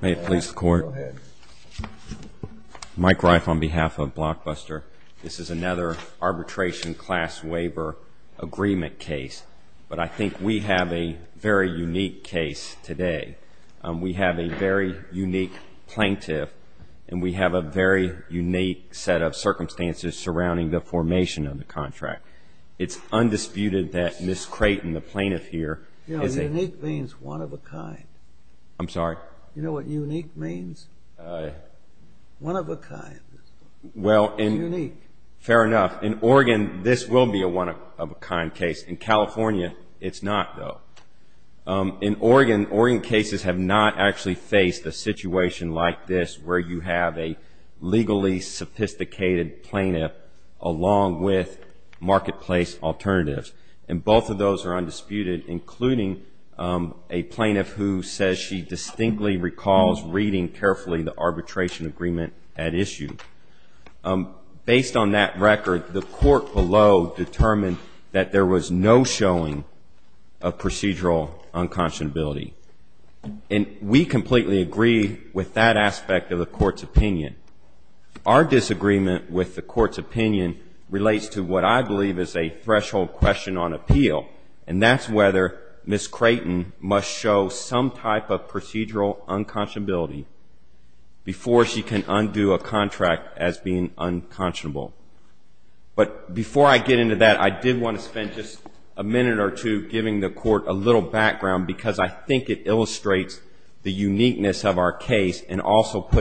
May it please the Court, Mike Reif on behalf of Blockbuster, this is another arbitration class waiver agreement case, but I think we have a very unique case today. We have a very unique plaintiff and we have a very unique set of circumstances surrounding the formation of the contract. It's undisputed that Ms. Creighton, the plaintiff here, is a... You know, unique means one of a kind. I'm sorry? You know what unique means? One of a kind. Unique. Fair enough. In Oregon, this will be a one of a kind case. In California, it's not, though. In Oregon, Oregon cases have not actually faced a situation like this where you have a legally sophisticated plaintiff along with marketplace alternatives. And both of those are undisputed, including a plaintiff who says she distinctly recalls reading carefully the arbitration agreement at issue. Based on that record, the court below determined that there was no showing of procedural unconscionability. And we completely agree with that aspect of the court's opinion. Our disagreement with the court's opinion relates to what I believe is a threshold question on appeal, and that's whether Ms. Creighton must show some type of procedural unconscionability before she can undo a contract as being unconscionable. But before I get into that, I did want to spend just a minute or two giving the court a little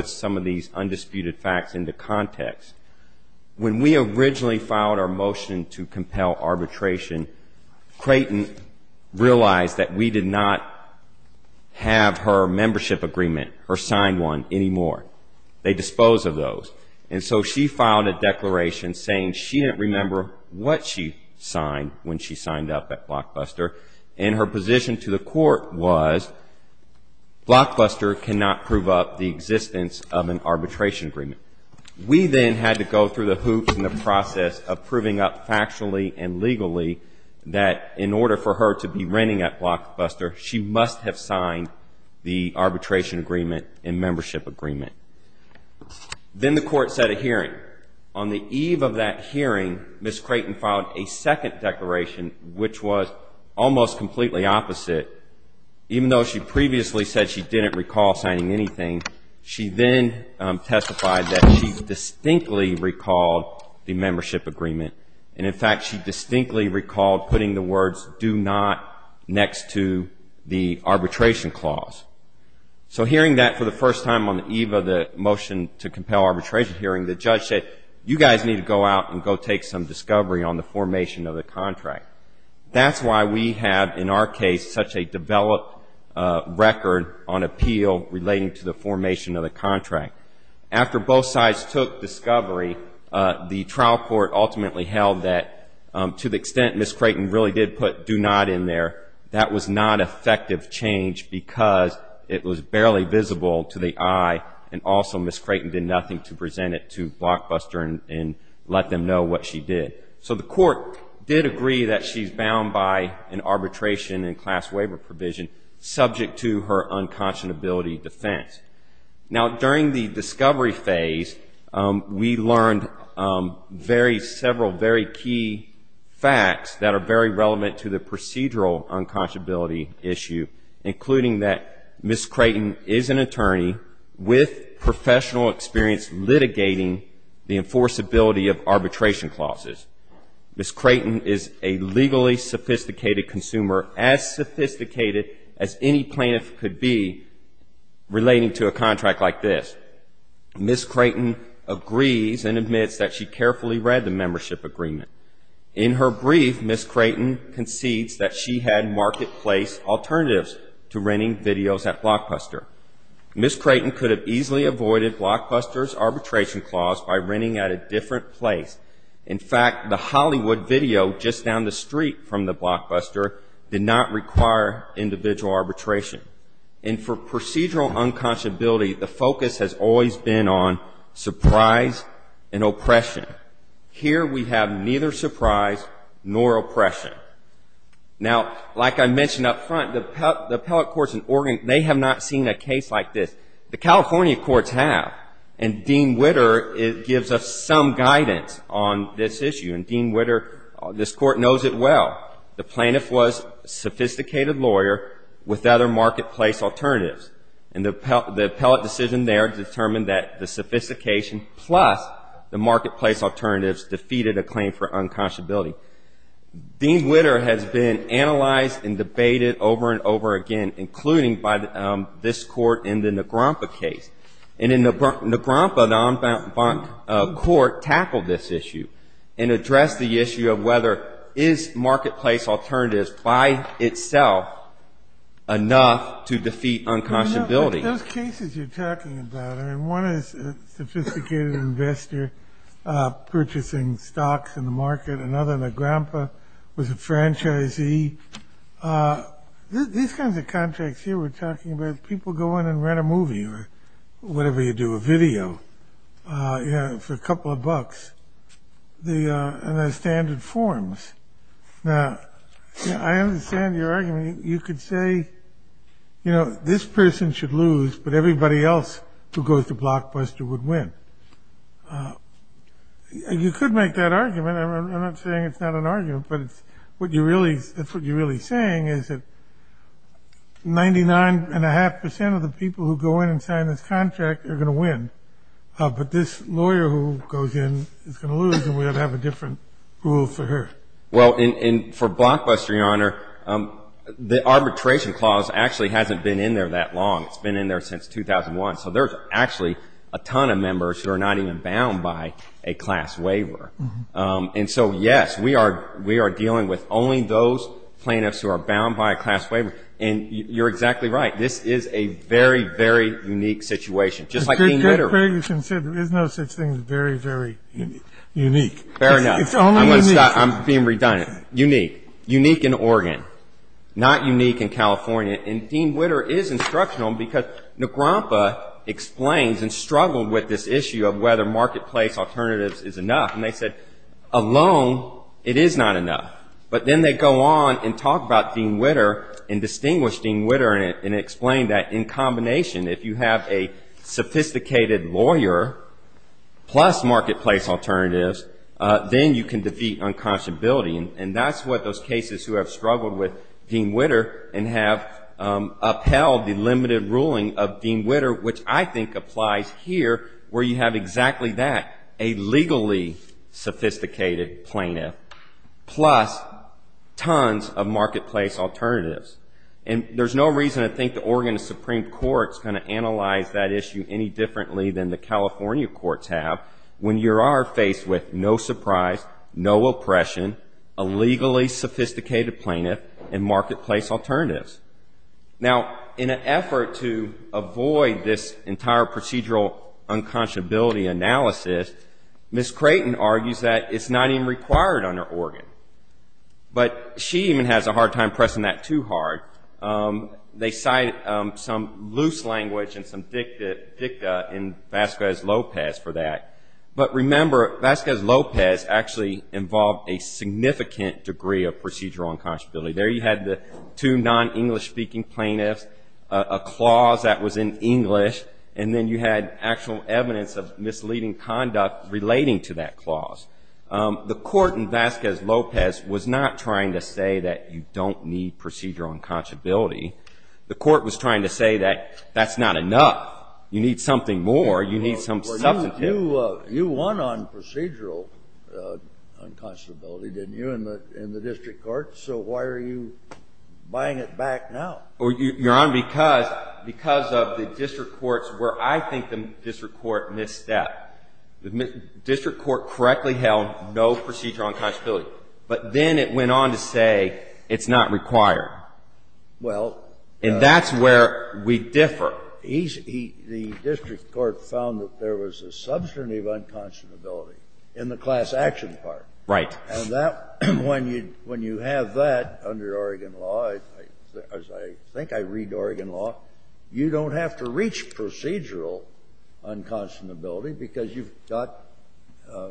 some of these undisputed facts into context. When we originally filed our motion to compel arbitration, Creighton realized that we did not have her membership agreement, her signed one, anymore. They disposed of those. And so she filed a declaration saying she didn't remember what she signed when she signed up at Blockbuster, and her position to the court was, Blockbuster cannot prove up the existence of an arbitration agreement. We then had to go through the hoops in the process of proving up factually and legally that in order for her to be renting at Blockbuster, she must have signed the arbitration agreement and membership agreement. Then the court set a hearing. On the eve of that hearing, Ms. Creighton filed a second recall signing anything. She then testified that she distinctly recalled the membership agreement. And in fact, she distinctly recalled putting the words, do not, next to the arbitration clause. So hearing that for the first time on the eve of the motion to compel arbitration hearing, the judge said, you guys need to go out and go take some discovery on the formation of the contract. That's why we have, in our case, such a developed record on appeal relating to the formation of the contract. After both sides took discovery, the trial court ultimately held that to the extent Ms. Creighton really did put do not in there, that was not effective change because it was barely visible to the eye, and also Ms. Creighton did nothing to present it to Blockbuster and let them know what she did. So the court did agree that she's bound by an arbitration and class waiver provision subject to her unconscionability defense. Now, during the discovery phase, we learned several very key facts that are very relevant to the procedural unconscionability issue, including that Ms. Creighton is an attorney with professional experience litigating the enforceability of arbitration clauses. Ms. Creighton is a legally sophisticated consumer, as sophisticated as any plaintiff could be relating to a contract like this. Ms. Creighton agrees and admits that she carefully read the membership agreement. In her brief, Ms. Creighton concedes that she had marketplace alternatives to renting videos at Blockbuster. Ms. Creighton could have easily avoided Blockbuster's arbitration clause by renting at a different place. In fact, the Hollywood video just down the street from the Blockbuster did not require individual arbitration. And for procedural unconscionability, the focus has always been on surprise and oppression. Here we have neither surprise nor oppression. Now, like I mentioned up front, the appellate courts in Oregon, they have not seen a case like this. The California courts have. And Dean Witter gives us some guidance on this issue. And Dean Witter, this court knows it well. The plaintiff was a sophisticated lawyer with other marketplace alternatives. And the appellate decision there determined that the sophistication plus the marketplace alternatives defeated a claim for unconscionability. Dean Witter has been analyzed and debated over and over again, including by this court in the Negrompa case. And in Negrompa, the en banc court tackled this issue and addressed the issue of whether is marketplace alternatives by itself enough to defeat unconscionability. Those cases you're talking about, one is a sophisticated investor purchasing stocks in the market, another Negrompa, was a franchisee. These kinds of contracts here we're talking about, people go in and rent a movie or whatever you do, a video for a couple of bucks. And there's standard forms. Now, I understand your argument. You could say, you know, this person should lose, but everybody else who goes to Blockbuster would win. You could make that argument. I'm not saying it's not an argument, but that's what you're really saying is that 99.5% of the people who go in and sign this contract are going to win. But this lawyer who goes in is going to lose, and we ought to have a different rule for her. Well, for Blockbuster, Your Honor, the arbitration clause actually hasn't been in there that long. It's been in there since 2001. So there's actually a ton of members who are not even bound by a class waiver. And so, yes, we are dealing with only those plaintiffs who are bound by a class waiver. And you're exactly right. This is a very, very unique situation, just like Dean Witter. Fair enough. I'm going to stop. I'm being redundant. Unique. Unique in Oregon. Not unique in California. And Dean Witter is a lawyer. And Trump explains and struggled with this issue of whether marketplace alternatives is enough. And they said, alone, it is not enough. But then they go on and talk about Dean Witter and distinguish Dean Witter and explain that in combination, if you have a sophisticated lawyer plus marketplace alternatives, then you can defeat unconscionability. And that's what those cases who have struggled with Dean Witter and have upheld the limited ruling of Dean Witter, which I think applies here, where you have exactly that, a legally sophisticated plaintiff plus tons of marketplace alternatives. And there's no reason I think the Oregon Supreme Court's going to analyze that issue any differently than the California courts have when you are faced with no surprise, no oppression, a legally sophisticated plaintiff and marketplace alternatives. Now, in an effort to avoid this entire procedural unconscionability analysis, Ms. Creighton argues that it's not even required under Oregon. But she even has a hard time pressing that too hard. They cite some loose language and some dicta in Vasquez Lopez for that. But remember, Vasquez Lopez actually involved a significant degree of procedural unconscionability. There you had the two non-English speaking plaintiffs, a clause that was in English, and then you had actual evidence of misleading conduct relating to that clause. The court in Vasquez Lopez was not trying to say that you don't need procedural unconscionability. The court was trying to say that that's not enough. You need something more. You need some substantive. You won on procedural unconscionability, didn't you, in the district court? So why are you buying it back now? Your Honor, because of the district courts where I think the district court misstepped. The district court correctly held no procedural unconscionability. But then it went on to say it's not required. And that's where we differ. The district court found that there was a substantive unconscionability in the class action part. Right. And that when you have that under Oregon law, as I think I read Oregon law, you don't have to reach procedural unconscionability because you've got,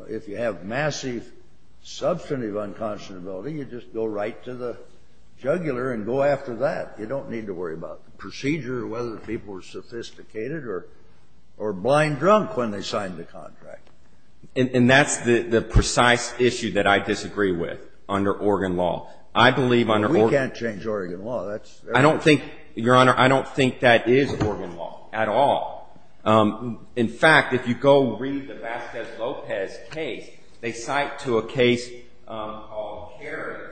if you have massive substantive unconscionability, you just go right to the juggler and go after that. You don't need to worry about the procedure or whether the people were sophisticated or blind drunk when they signed the contract. And that's the precise issue that I disagree with under Oregon law. I believe under Oregon law. We can't change Oregon law. That's everything. I don't think, Your Honor, I don't think that is Oregon law at all. In fact, if you go read the Vasquez Lopez case, they cite to a case called Carey.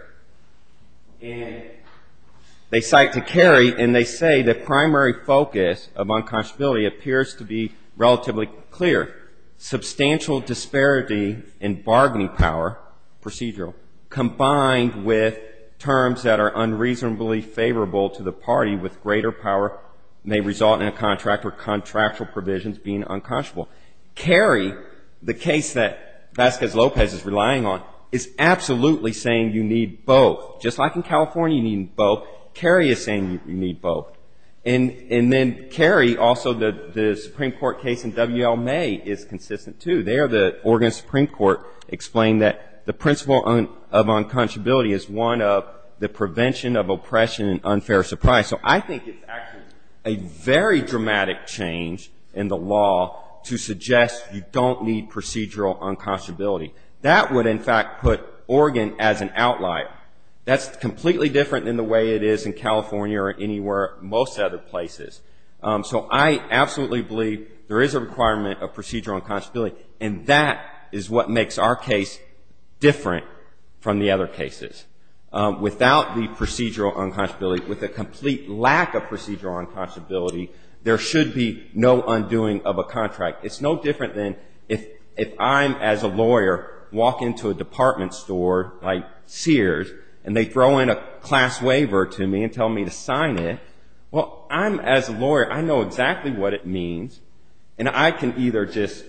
And they cite to Carey and they say the primary focus of unconscionability appears to be relatively clear. Substantial disparity in bargaining power, procedural, combined with terms that are unreasonably favorable to the party with greater power may result in a contract or contractual provisions being unconscionable. Carey, the case that Vasquez Lopez is relying on, is absolutely saying you need both. Just like in California you need both, Carey is saying you need both. And then Carey, also the Supreme Court case in W.L. May is consistent too. There the Oregon Supreme Court explained that the principle of unconscionability is one of the prevention of oppression and unfair surprise. So I think it's actually a very dramatic change in the law to say that you need both. To suggest you don't need procedural unconscionability. That would in fact put Oregon as an outlier. That's completely different than the way it is in California or anywhere, most other places. So I absolutely believe there is a requirement of procedural unconscionability. And that is what makes our case different from the other cases. Without the procedural unconscionability, with a complete lack of procedural unconscionability, there should be no undoing of a contract. It's not a contract. It's no different than if I'm, as a lawyer, walk into a department store, like Sears, and they throw in a class waiver to me and tell me to sign it. Well, I'm, as a lawyer, I know exactly what it means. And I can either just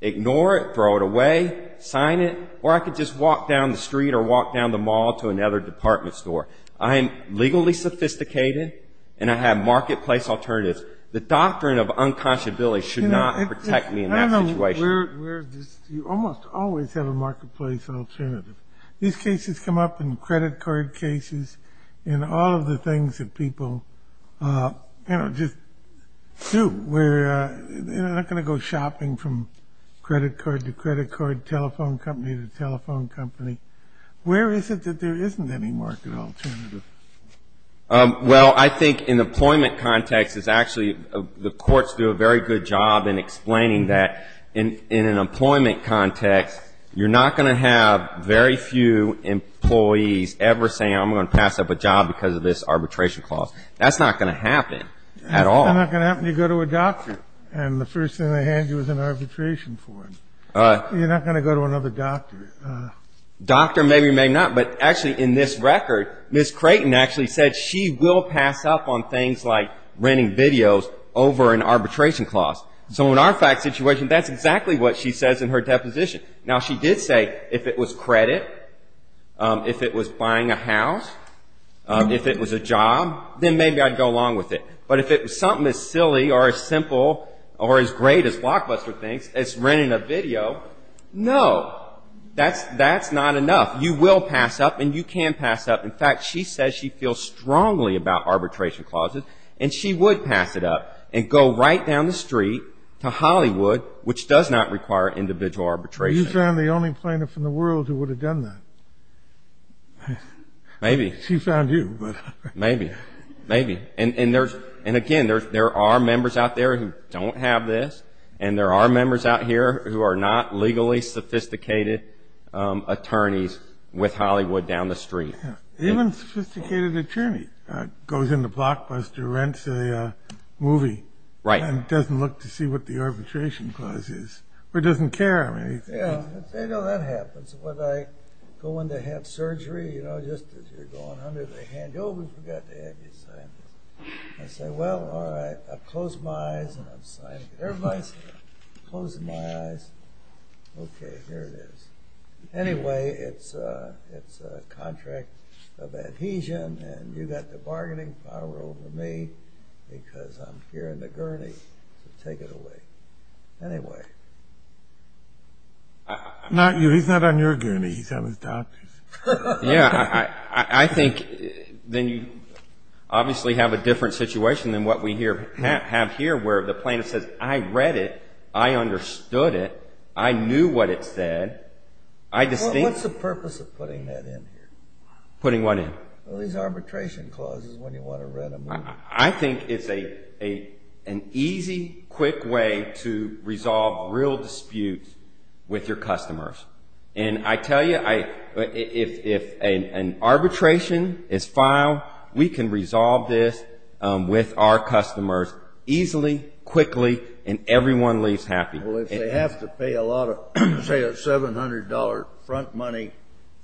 ignore it, throw it away, sign it, or I can just walk down the street or walk down the mall to another department store. I'm legally sophisticated and I have marketplace alternatives. The doctrine of unconscionability should not protect me. I don't know where, you almost always have a marketplace alternative. These cases come up in credit card cases and all of the things that people just do. We're not going to go shopping from credit card to credit card, telephone company to telephone company. Where is it that there isn't any market alternative? Well, I think in the employment context, it's actually, the courts do a very good job in explaining that there is a market alternative. That in an employment context, you're not going to have very few employees ever saying, I'm going to pass up a job because of this arbitration clause. That's not going to happen at all. It's not going to happen if you go to a doctor and the first thing they hand you is an arbitration form. You're not going to go to another doctor. Doctor maybe, maybe not. But actually, in this record, Ms. Creighton actually said she will pass up on things like renting videos over an arbitration clause. So in our fact situation, that's exactly what she says in her deposition. Now, she did say if it was credit, if it was buying a house, if it was a job, then maybe I'd go along with it. But if it was something as silly or as simple or as great as Blockbuster thinks, as renting a video, no. That's not enough. You will pass up and you can pass up. In fact, she says she feels strongly about arbitration clauses and she would pass it up and go right down the street to Hollywood, which does not require individual arbitration. You found the only plaintiff in the world who would have done that. She found you. Maybe. And again, there are members out there who don't have this and there are members out here who are not legally sophisticated attorneys with Hollywood down the street. Even a sophisticated attorney goes into Blockbuster, rents a movie, and doesn't look to see what the arbitration clause is, or doesn't care. Yeah, I know that happens. When I go in to have surgery, you know, just as you're going under the hand. Oh, we forgot to have you sign this. I say, well, all right, I close my eyes and I'm signing it. Everybody's closing their eyes. Okay, here it is. Anyway, it's a contract of adhesion and you got the bargaining power over me because I'm here in the gurney to take it away. Anyway, not you. He's not on your gurney. He's on his doctor's. Yeah, I think then you obviously have a different situation than what we have here where the plaintiff says, I read it. I understood it. I knew what it said. What's the purpose of putting that in here? Putting what in? Well, these arbitration clauses, when you want to rent a movie. I think it's an easy, quick way to resolve real disputes with your customers. And I tell you, if an arbitration is filed, we can resolve this with our customers easily, quickly, and everyone leaves home. Well, if they have to pay a lot of, say, a $700 front money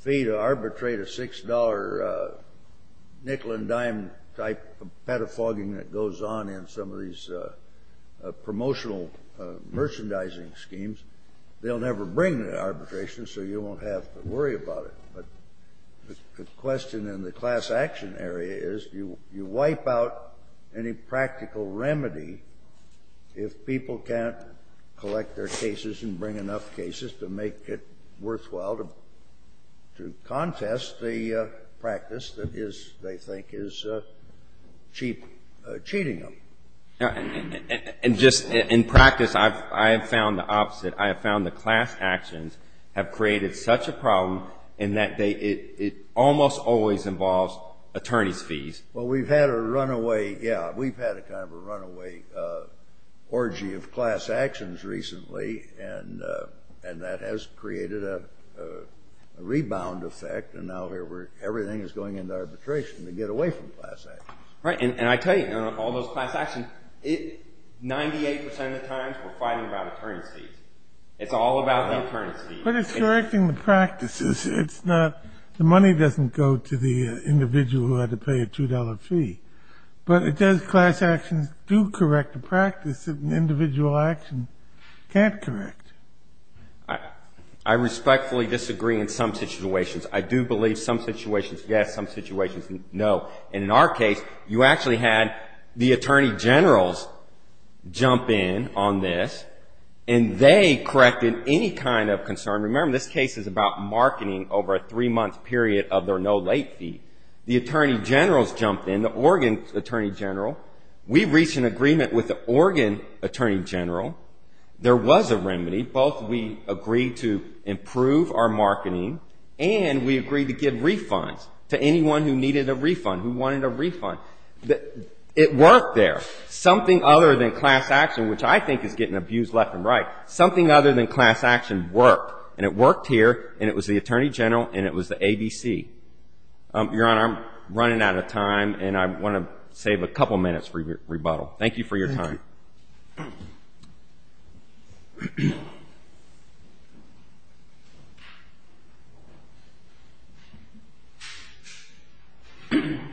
fee to arbitrate a $6 nickel and dime type of pedophagy that goes on in some of these promotional merchandising schemes, they'll never bring the arbitration, so you won't have to worry about it. But the question in the class action area is, do you wipe out any practical remedy if people can't afford it? Collect their cases and bring enough cases to make it worthwhile to contest the practice that is, they think, is cheap, cheating them. And just in practice, I have found the opposite. I have found the class actions have created such a problem in that it almost always involves attorney's fees. Well, we've had a runaway, yeah, we've had a kind of a runaway orgy of class actions. Well, we've had a runaway orgy of class actions recently, and that has created a rebound effect, and now everything is going into arbitration to get away from class actions. Right, and I tell you, all those class actions, 98% of the time we're fighting about attorney's fees. It's all about the attorney's fees. But it's correcting the practices. The money doesn't go to the individual who had to pay a $2 fee. But it does, class actions do correct the practice that an individual action can't correct. I respectfully disagree in some situations. I do believe some situations, yes, some situations, no. And in our case, you actually had the attorney generals jump in on this, and they corrected any kind of concern. Remember, this case is about marketing over a three-month period of their no-late fee. The attorney generals jumped in, the Oregon attorney general. We reached an agreement with the Oregon attorney general. There was a remedy. Both we agreed to improve our marketing, and we agreed to give refunds to anyone who needed a refund, who wanted a refund. It worked there. Something other than class action, which I think is getting abused left and right, something other than class action worked. And it worked here, and it was the attorney general, and it was the ABC. Your Honor, I'm running out of time, and I want to save a couple minutes for rebuttal. Thank you for your time.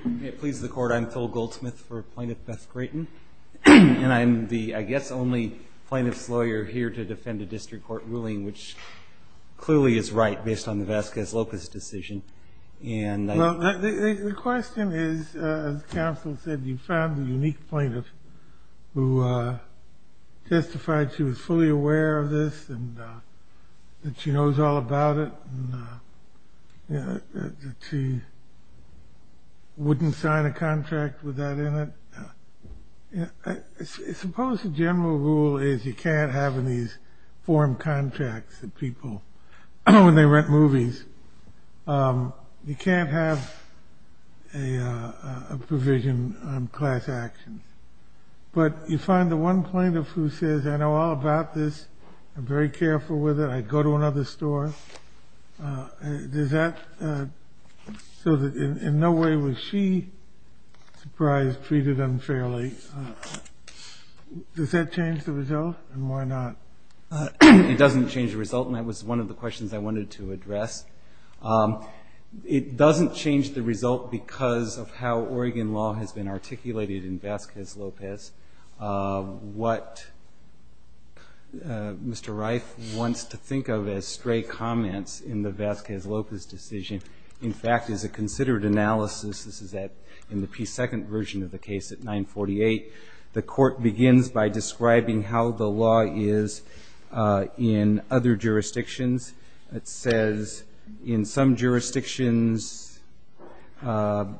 May it please the Court, I'm Phil Goldsmith for Plaintiff Beth Grayton, and I'm the, I guess, only plaintiff's lawyer here to defend a district court ruling, which clearly is right, based on the Vasquez-Lopez decision. Well, the question is, as counsel said, you found a unique plaintiff who testified she was fully aware of this, and that she knows all about it, and that she wouldn't sign a contract with that in it. Suppose the general rule is you can't have in these form contracts that people, when they rent movies, you can't have a provision on class action. But you find the one plaintiff who says, I know all about this, I'm very careful with it, I'd go to another store. So in no way was she surprised, treated unfairly. Does that change the result, and why not? It doesn't change the result, and that was one of the questions I wanted to address. It doesn't change the result because of how Oregon law has been articulated in Vasquez-Lopez. What Mr. Reif wants to think of as stray comments in the Vasquez-Lopez decision, in fact, is a considered analysis. This is in the P2 version of the case at 948. The court begins by describing how the law is in other jurisdictions. It says in some jurisdictions both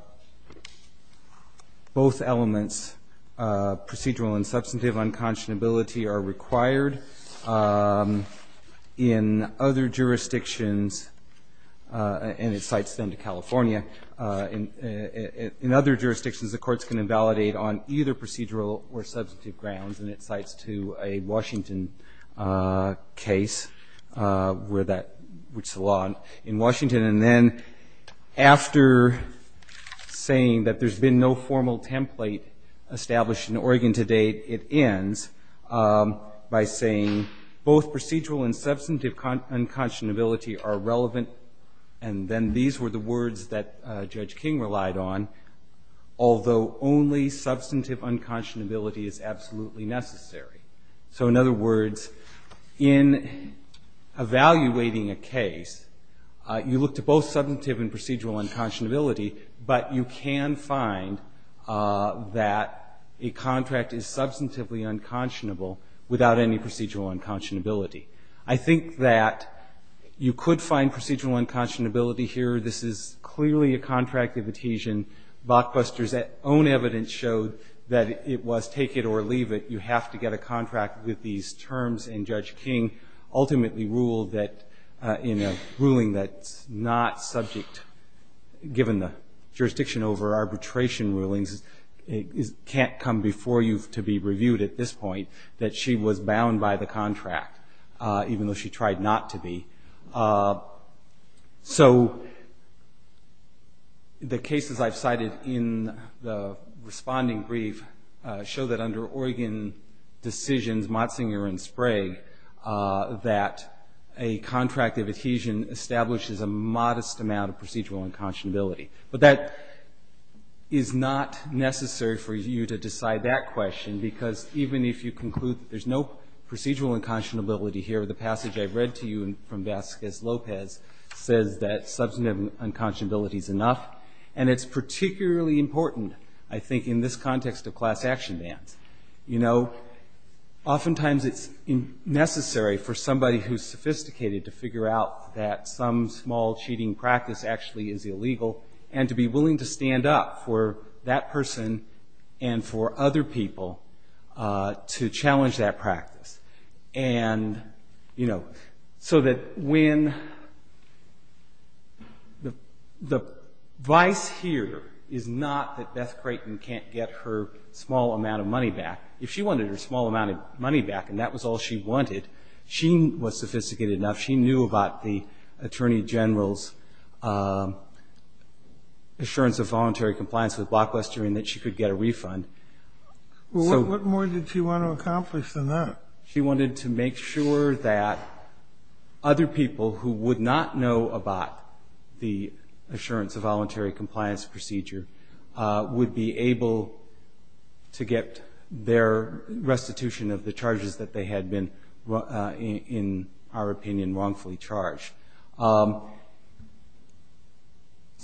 elements, procedural and substantive unconscionability, are required. In other jurisdictions, and it cites then to California, in other jurisdictions the courts can invalidate on either procedural or substantive grounds, and it cites to a Washington case, which is a law in Washington. And then after saying that there's been no formal template established in Oregon to date, it ends by saying both procedural and substantive unconscionability are relevant, and then these were the words that Judge King relied on, although only substantive unconscionability is absolutely necessary. So in other words, in evaluating a case, you look to both substantive and procedural unconscionability, but you can find that a contract is substantively unconscionable without any procedural unconscionability. I think that you could find procedural unconscionability here. This is clearly a contract of adhesion. Bachbuster's own evidence showed that it was take it or leave it. You have to get a contract with these terms, and Judge King ultimately ruled that in a ruling that's not subject, given the jurisdiction over arbitration rulings, it can't come before you to be reviewed at this point, that she was bound by the contract, even though she tried not to be. The cases I've cited in the responding brief show that under Oregon decisions, Motzinger and Sprague, that a contract of adhesion establishes a modest amount of procedural unconscionability. But that is not necessary for you to decide that question, because even if you conclude that there's no procedural unconscionability here, the passage I've read to you from Vasquez Lopez says that substantive unconscionability is enough, and it's particularly important, I think, in this context of class action bans. Oftentimes it's necessary for somebody who's sophisticated to figure out that some small cheating practice actually is illegal, and to be willing to stand up for that person and for other people to challenge that practice. And, you know, so that when the vice here is not that Beth Creighton can't get her small amount of money back. If she wanted her small amount of money back, and that was all she wanted, she was sophisticated enough, she knew about the Attorney General's assurance of voluntary compliance with Blockbuster, and that she could get a refund. She wanted to make sure that other people who would not know about the assurance of voluntary compliance procedure would be able to get their restitution of the charges that they had been in our opinion wrongfully charged.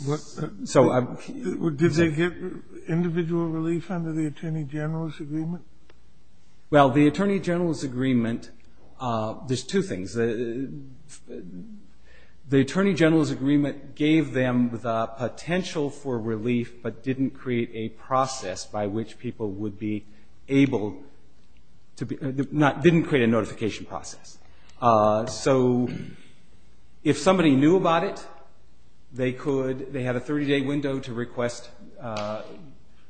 Did they get individual relief under the Attorney General's agreement? Well, the Attorney General's agreement, there's two things. The Attorney General's agreement gave them the potential for relief, but didn't create a process by which people would be able to, didn't create a notification process. So if somebody knew about it, they could, they had a 30-day window to request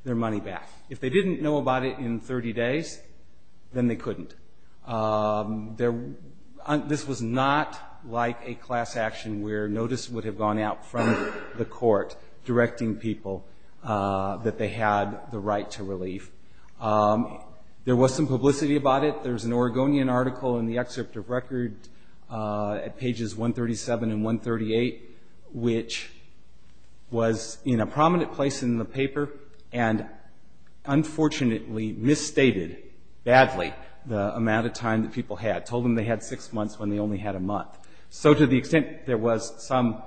their money back. If they didn't know about it in 30 days, then they couldn't. This was not like a class action where notice would have gone out from the court directing people that they had the right to relief. There was some publicity about it. There's an Oregonian article in the excerpt of record at pages 137 and 138, which was in a prominent place in the paper, and unfortunately misstated badly the amount of time that people had. Told them they had six months when they only had a month. So to the extent there was some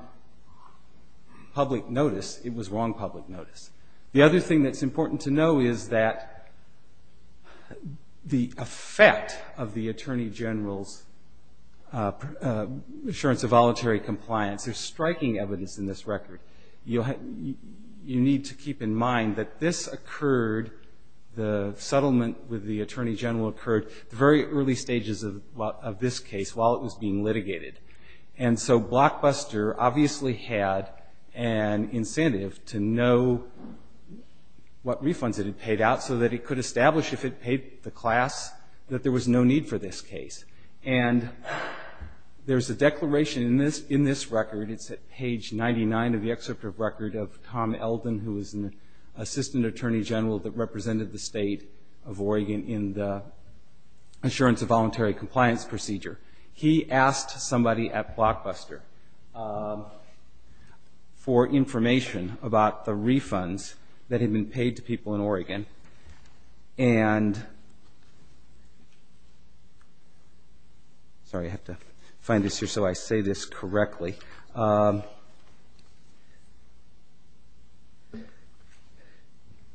public notice, it was wrong public notice. The other thing that's important to know is that the effect of the Attorney General's assurance of voluntary compliance, there's striking evidence in this record. You need to keep in mind that this occurred, the settlement with the Attorney General occurred at the very early stages of this case while it was being litigated. And so Blockbuster obviously had an incentive to know what refunds it had paid out so that it could establish if it paid the class that there was no need for this case. And there's a declaration in this record, it's at page 99 of the excerpt of record of Tom Elden, who was an Assistant Attorney General that represented the state of Oregon in the assurance of voluntary compliance procedure. He asked somebody at Blockbuster for information about the refunds that had been paid to people in Oregon. Sorry, I have to find this here so I say this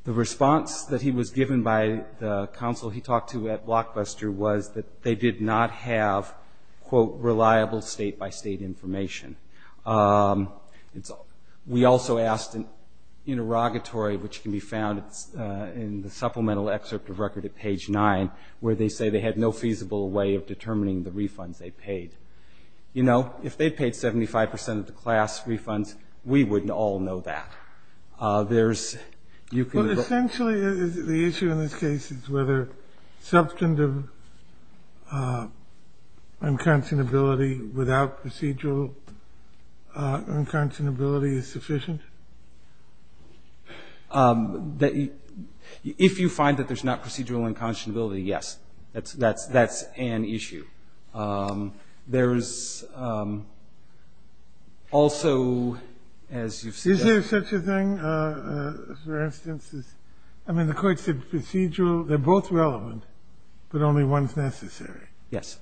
The response that he was given by the counsel he talked to at Blockbuster was that they did not have, quote, reliable state-by-state information. We also asked an interrogatory, which can be found in the supplemental excerpt of record at page 9, where they say they had no feasible way of determining the refunds they paid. You know, if they'd paid 75 percent of the class refunds, we wouldn't all know that. There's, you can... But essentially the issue in this case is whether substantive unconscionability without procedural unconscionability is sufficient? If you find that there's not procedural unconscionability, yes. That's an issue. There's also, as you've said... Is there such a thing, for instance, I mean the court said procedural, they're both relevant, but only one's necessary. Yes.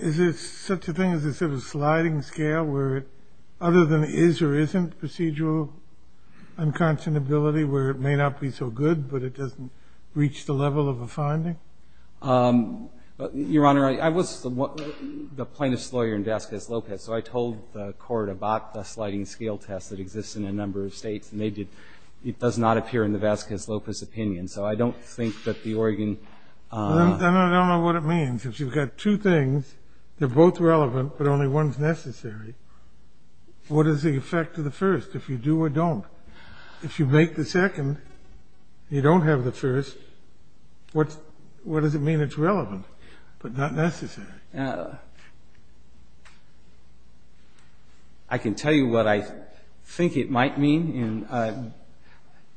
Is there such a thing as a sort of sliding scale where other than is or isn't procedural unconscionability where it may not be so good, but it doesn't reach the level of a finding? Your Honor, I was the plaintiff's lawyer in Vasquez-Lopez, so I told the court about the sliding scale test that exists in a number of states, and it does not appear in the Vasquez-Lopez opinion, so I don't think that the Oregon... Then I don't know what it means. If you've got two things, they're both relevant, but only one's necessary, what is the effect of the first, if you do or don't? If you make the second, you don't have the first, what does it mean it's relevant, but not necessary? I can tell you what I think it might mean, and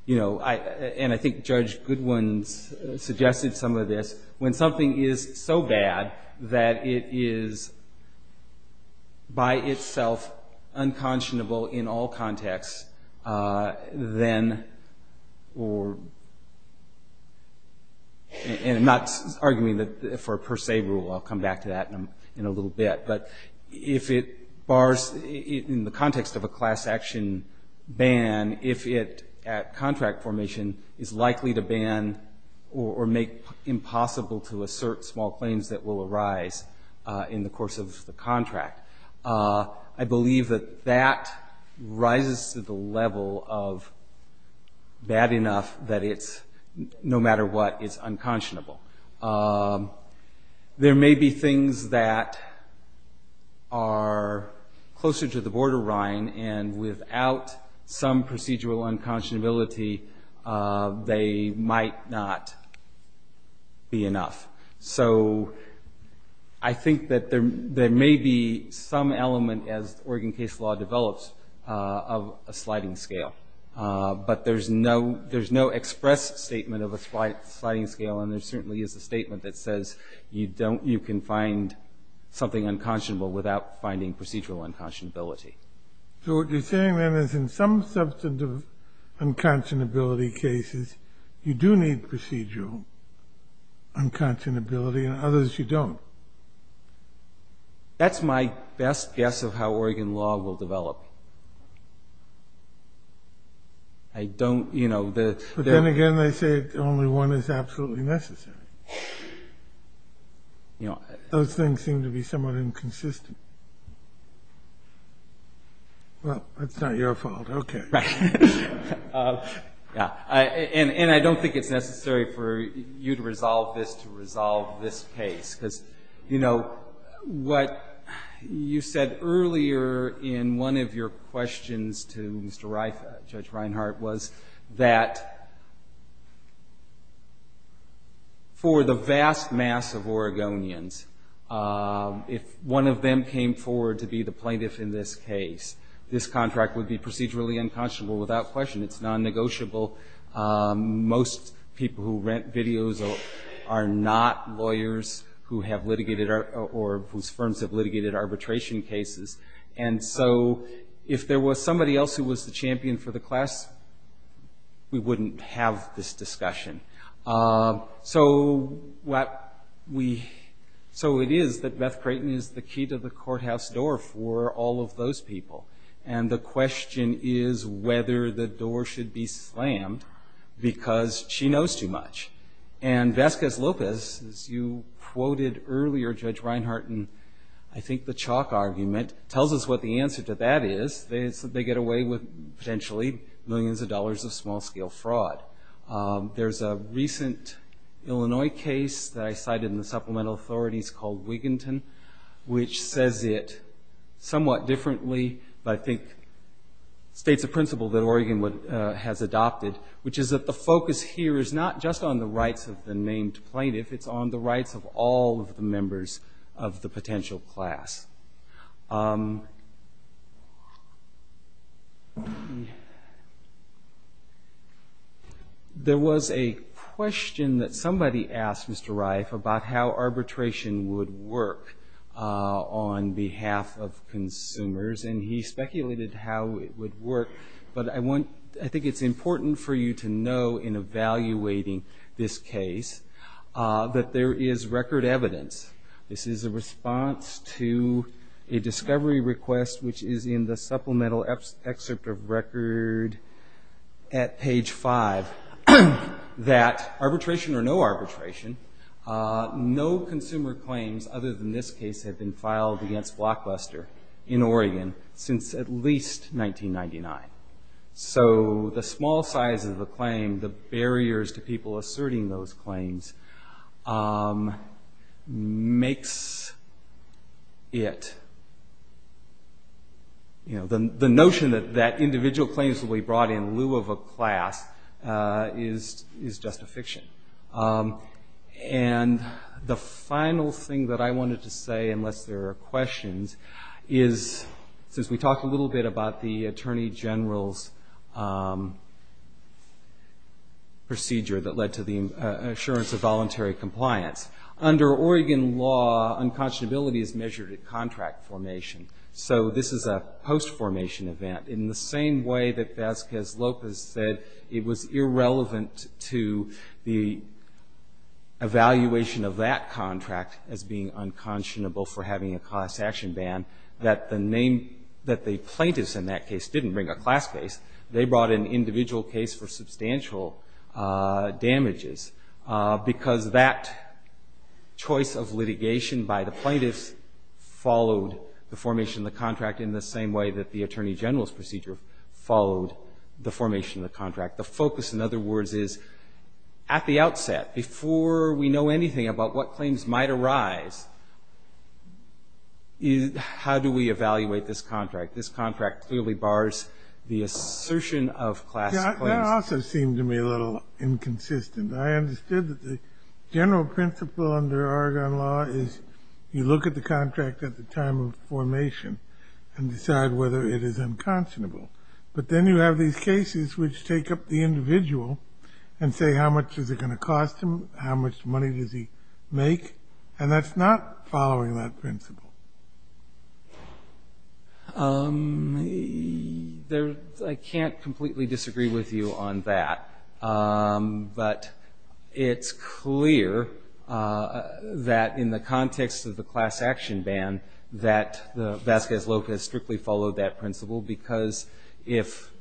I think Judge Goodwin suggested some of this, when something is so bad that it is by itself unconscionable in all contexts, then... I'm not arguing for a per se rule, I'll come back to that in a little bit, but if it bars, in the context of a class action ban, if it, at contract formation, is likely to ban or make impossible to assert small claims that will arise in the course of the contract, I believe that that rises to the level of bad enough that no matter what, it's unconscionable. There may be things that are closer to the borderline, and without some procedural unconscionability, they might not be enough. So I think that there may be some element, as Oregon case law develops, of a sliding scale, but there's no express statement of a sliding scale, and there certainly is a statement that says you can find something unconscionable without finding procedural unconscionability. So what you're saying, then, is in some substantive unconscionability cases, you do need procedural unconscionability, and others you don't. That's my best guess of how Oregon law will develop. I don't, you know... But then again, they say only one is absolutely necessary. Those things seem to be somewhat inconsistent. Well, that's not your fault. Okay. And I don't think it's necessary for you to resolve this to resolve this case, because, you know, what you said earlier in one of your questions to Judge Reinhart was that for the vast mass of Oregonians, if one of them came forward to be the plaintiff in this case, this contract would be procedurally unconscionable without question. It's non-negotiable. Most people who rent videos are not lawyers who have litigated, or whose firms have litigated arbitration cases. And so if there was somebody else who was the champion for the class, we wouldn't have this discussion. So it is that Beth Creighton is the key to the courthouse door for all of those people. And the question is whether the door should be slammed, because she knows too much. And Vasquez Lopez, as you quoted earlier, Judge Reinhart, in I think the chalk argument, tells us what the answer to that is. They get away with potentially millions of dollars of small-scale fraud. There's a recent Illinois case that I cited in the supplemental authorities called Wiginton, which says it somewhat differently, but I think states a principle that Oregon has adopted, which is that the focus here is not just on the rights of the named plaintiff, it's on the rights of all of the members of the potential class. There was a question that somebody asked Mr. Reif about how arbitration would work on behalf of consumers, and he said it's important for you to know in evaluating this case that there is record evidence. This is a response to a discovery request, which is in the supplemental excerpt of record at page five, that arbitration or no arbitration, no consumer claims other than this case have been filed against Blockbuster in Oregon since at least 1999. The small size of the claim, the barriers to people asserting those claims makes it... The notion that individual claims will be brought in lieu of a class is just a fiction. And the final thing that I wanted to say, unless there are questions, is since we talked a little bit about the attorney general's procedure that led to the assurance of voluntary compliance, under Oregon law, unconscionability is measured at contract formation, so this is a post-formation event. In the same way that Vasquez Lopez said it was the evaluation of that contract as being unconscionable for having a class action ban, that the plaintiffs in that case didn't bring a class case. They brought an individual case for substantial damages, because that choice of litigation by the plaintiffs followed the formation of the contract in the same way that the attorney general's procedure followed the formation of the contract. The focus, in other words, is at the outset, before we know anything about what claims might arise, how do we evaluate this contract? This contract clearly bars the assertion of class claims. That also seemed to me a little inconsistent. I understood that the general principle under Oregon law is you look at the contract at the time of formation and decide whether it is unconscionable, but then you have these cases which take up the individual and say how much is it going to cost him, how much money does he make, and that's not following that principle. I can't completely disagree with you on that, but it's clear that in the context of the class action ban, that Vasquez Lopez strictly followed that principle, because if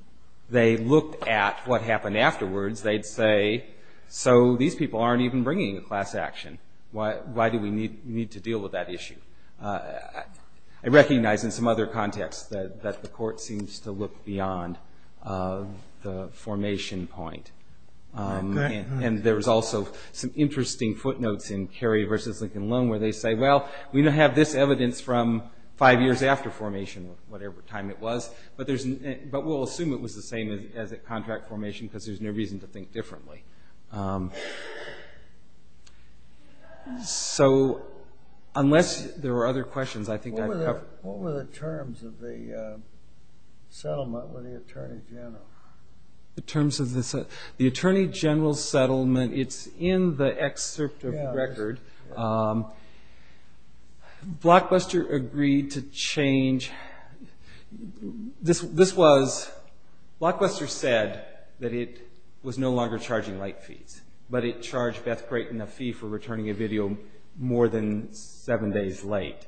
they looked at what happened afterwards, they'd say, so these people aren't even bringing a class action. Why do we need to deal with that issue? I recognize in some other contexts that the Court seems to look beyond the formation point. There's also some interesting footnotes in Carey v. Lincoln Loan where they say, well, we don't have this evidence from five years after formation, whatever time it was, but we'll assume it was the same as at contract formation because there's no reason to think differently. So unless there are other questions, I think I've covered... What were the terms of the settlement with the Attorney General? The terms of the settlement? The Attorney General's settlement, it's in the excerpt of the record. Blockbuster agreed to change... Blockbuster said that it was no longer charging late fees, but it charged Beth Creighton a fee for returning a video more than seven days late.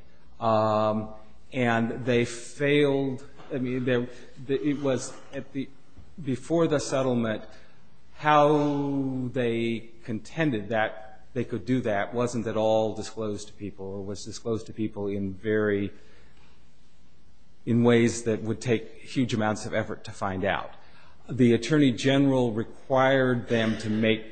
Before the settlement, how they contended that they could do that wasn't at all disclosed to people or was disclosed to people in ways that would take huge amounts of effort to find out. The Attorney General required them to make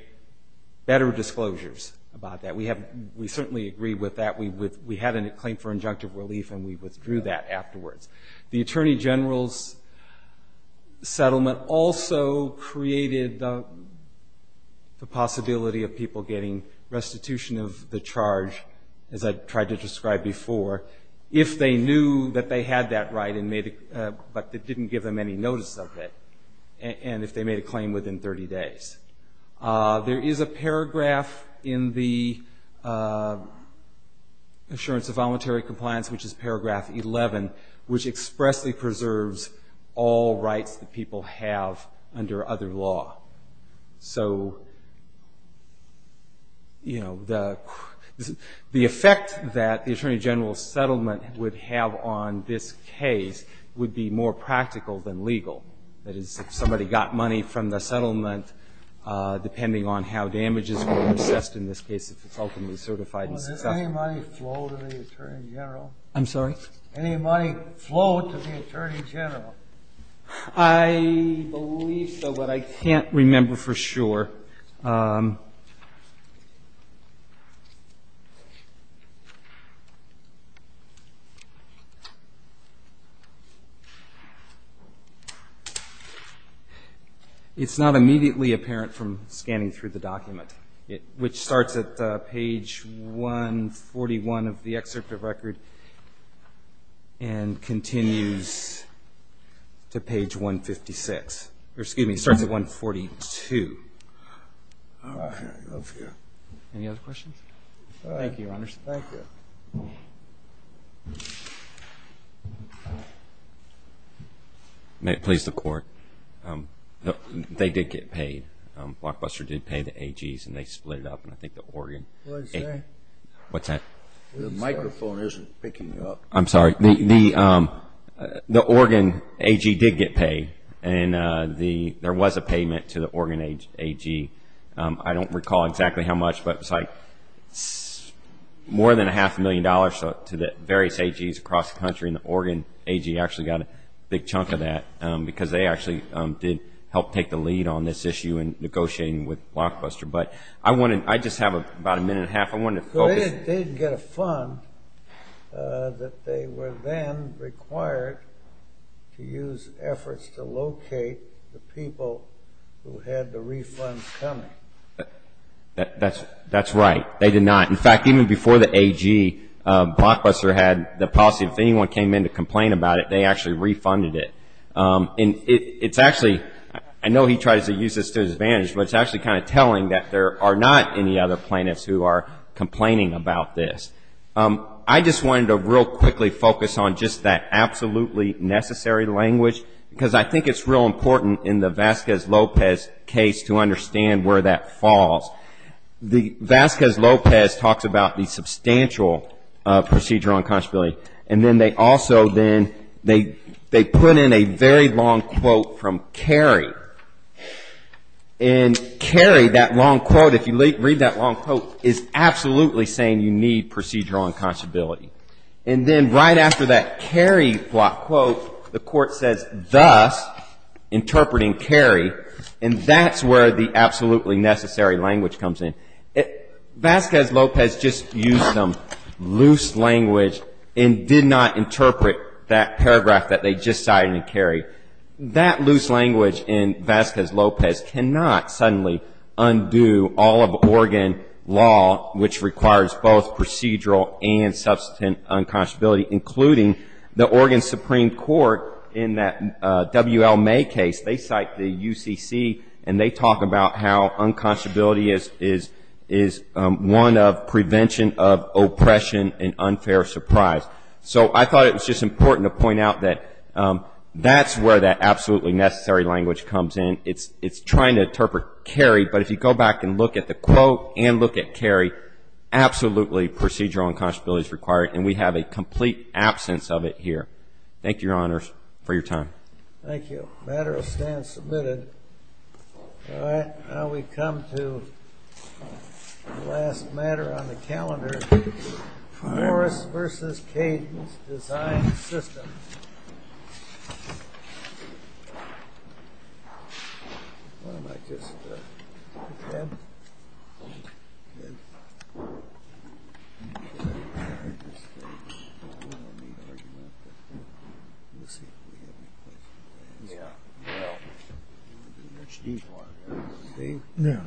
better disclosures about that. We certainly agree with that. We had a claim for injunctive relief, and we withdrew that afterwards. The Attorney General's settlement also created the possibility of people getting restitution of the charge, as I tried to describe before, if they knew that they had that right and didn't give them any notice of it, and if they made a claim within 30 days. There is a paragraph in the Assurance of Voluntary Compliance, which is paragraph 11, which expressly preserves all rights that people have under other law. So, you know, the effect that the Attorney General's settlement would have on this case would be more practical than legal. That is, if somebody got money from the settlement, depending on how damages were assessed in this case, if it's ultimately certified and successful. Any money flowed to the Attorney General? I believe so, but I can't remember for sure. It's not immediately apparent from scanning through the document, which starts at page 141 of the excerpt of record and continues to page 156. Excuse me, it starts at 142. Any other questions? May it please the Court? They did get paid. Blockbuster did pay the AGs, and they split it up. The Oregon AG did get paid, and there was a payment to the Oregon AG. I don't recall exactly how much, but it was like more than a half a million dollars to the various AGs across the country, and the Oregon AG actually got a big chunk of that, because they actually did help take the lead on this issue in negotiating with Blockbuster. But I just have about a minute and a half. I wanted to focus. They did get a fund that they were then required to use efforts to locate the people who had the refunds coming. That's right. They did not. In fact, even before the AG, Blockbuster had the policy, if anyone came in to complain about it, they actually refunded it. I know he tries to use this to his advantage, but it's actually kind of telling that there are not any other plaintiffs who are complaining about this. I just wanted to real quickly focus on just that absolutely necessary language, because I think it's real important in the Vasquez-Lopez case to understand where that falls. Vasquez-Lopez talks about the substantial procedural unconscionability, and then they also then, they put in a very long quote from Carey. And Carey, that long quote, if you read that long quote, is absolutely saying you need procedural unconscionability. And then right after that Carey block quote, the court says thus, interpreting Carey, and that's where the absolutely necessary language comes in. Vasquez-Lopez just used some loose language and did not interpret that paragraph that they just cited in Carey. That loose language in Vasquez-Lopez cannot suddenly undo all of Oregon law, which requires both procedural and substantive unconscionability, including the Oregon Supreme Court in that W.L. D.C. And they talk about how unconscionability is one of prevention of oppression and unfair surprise. So I thought it was just important to point out that that's where that absolutely necessary language comes in. It's trying to interpret Carey, but if you go back and look at the quote and look at Carey, absolutely procedural unconscionability is required, and we have a complete absence of it here. Thank you, Your Honor, for your time. Thank you. The matter is now submitted. All right. Now we come to the last matter on the calendar, Morris v. Caden's design system. Thank you, Your Honor.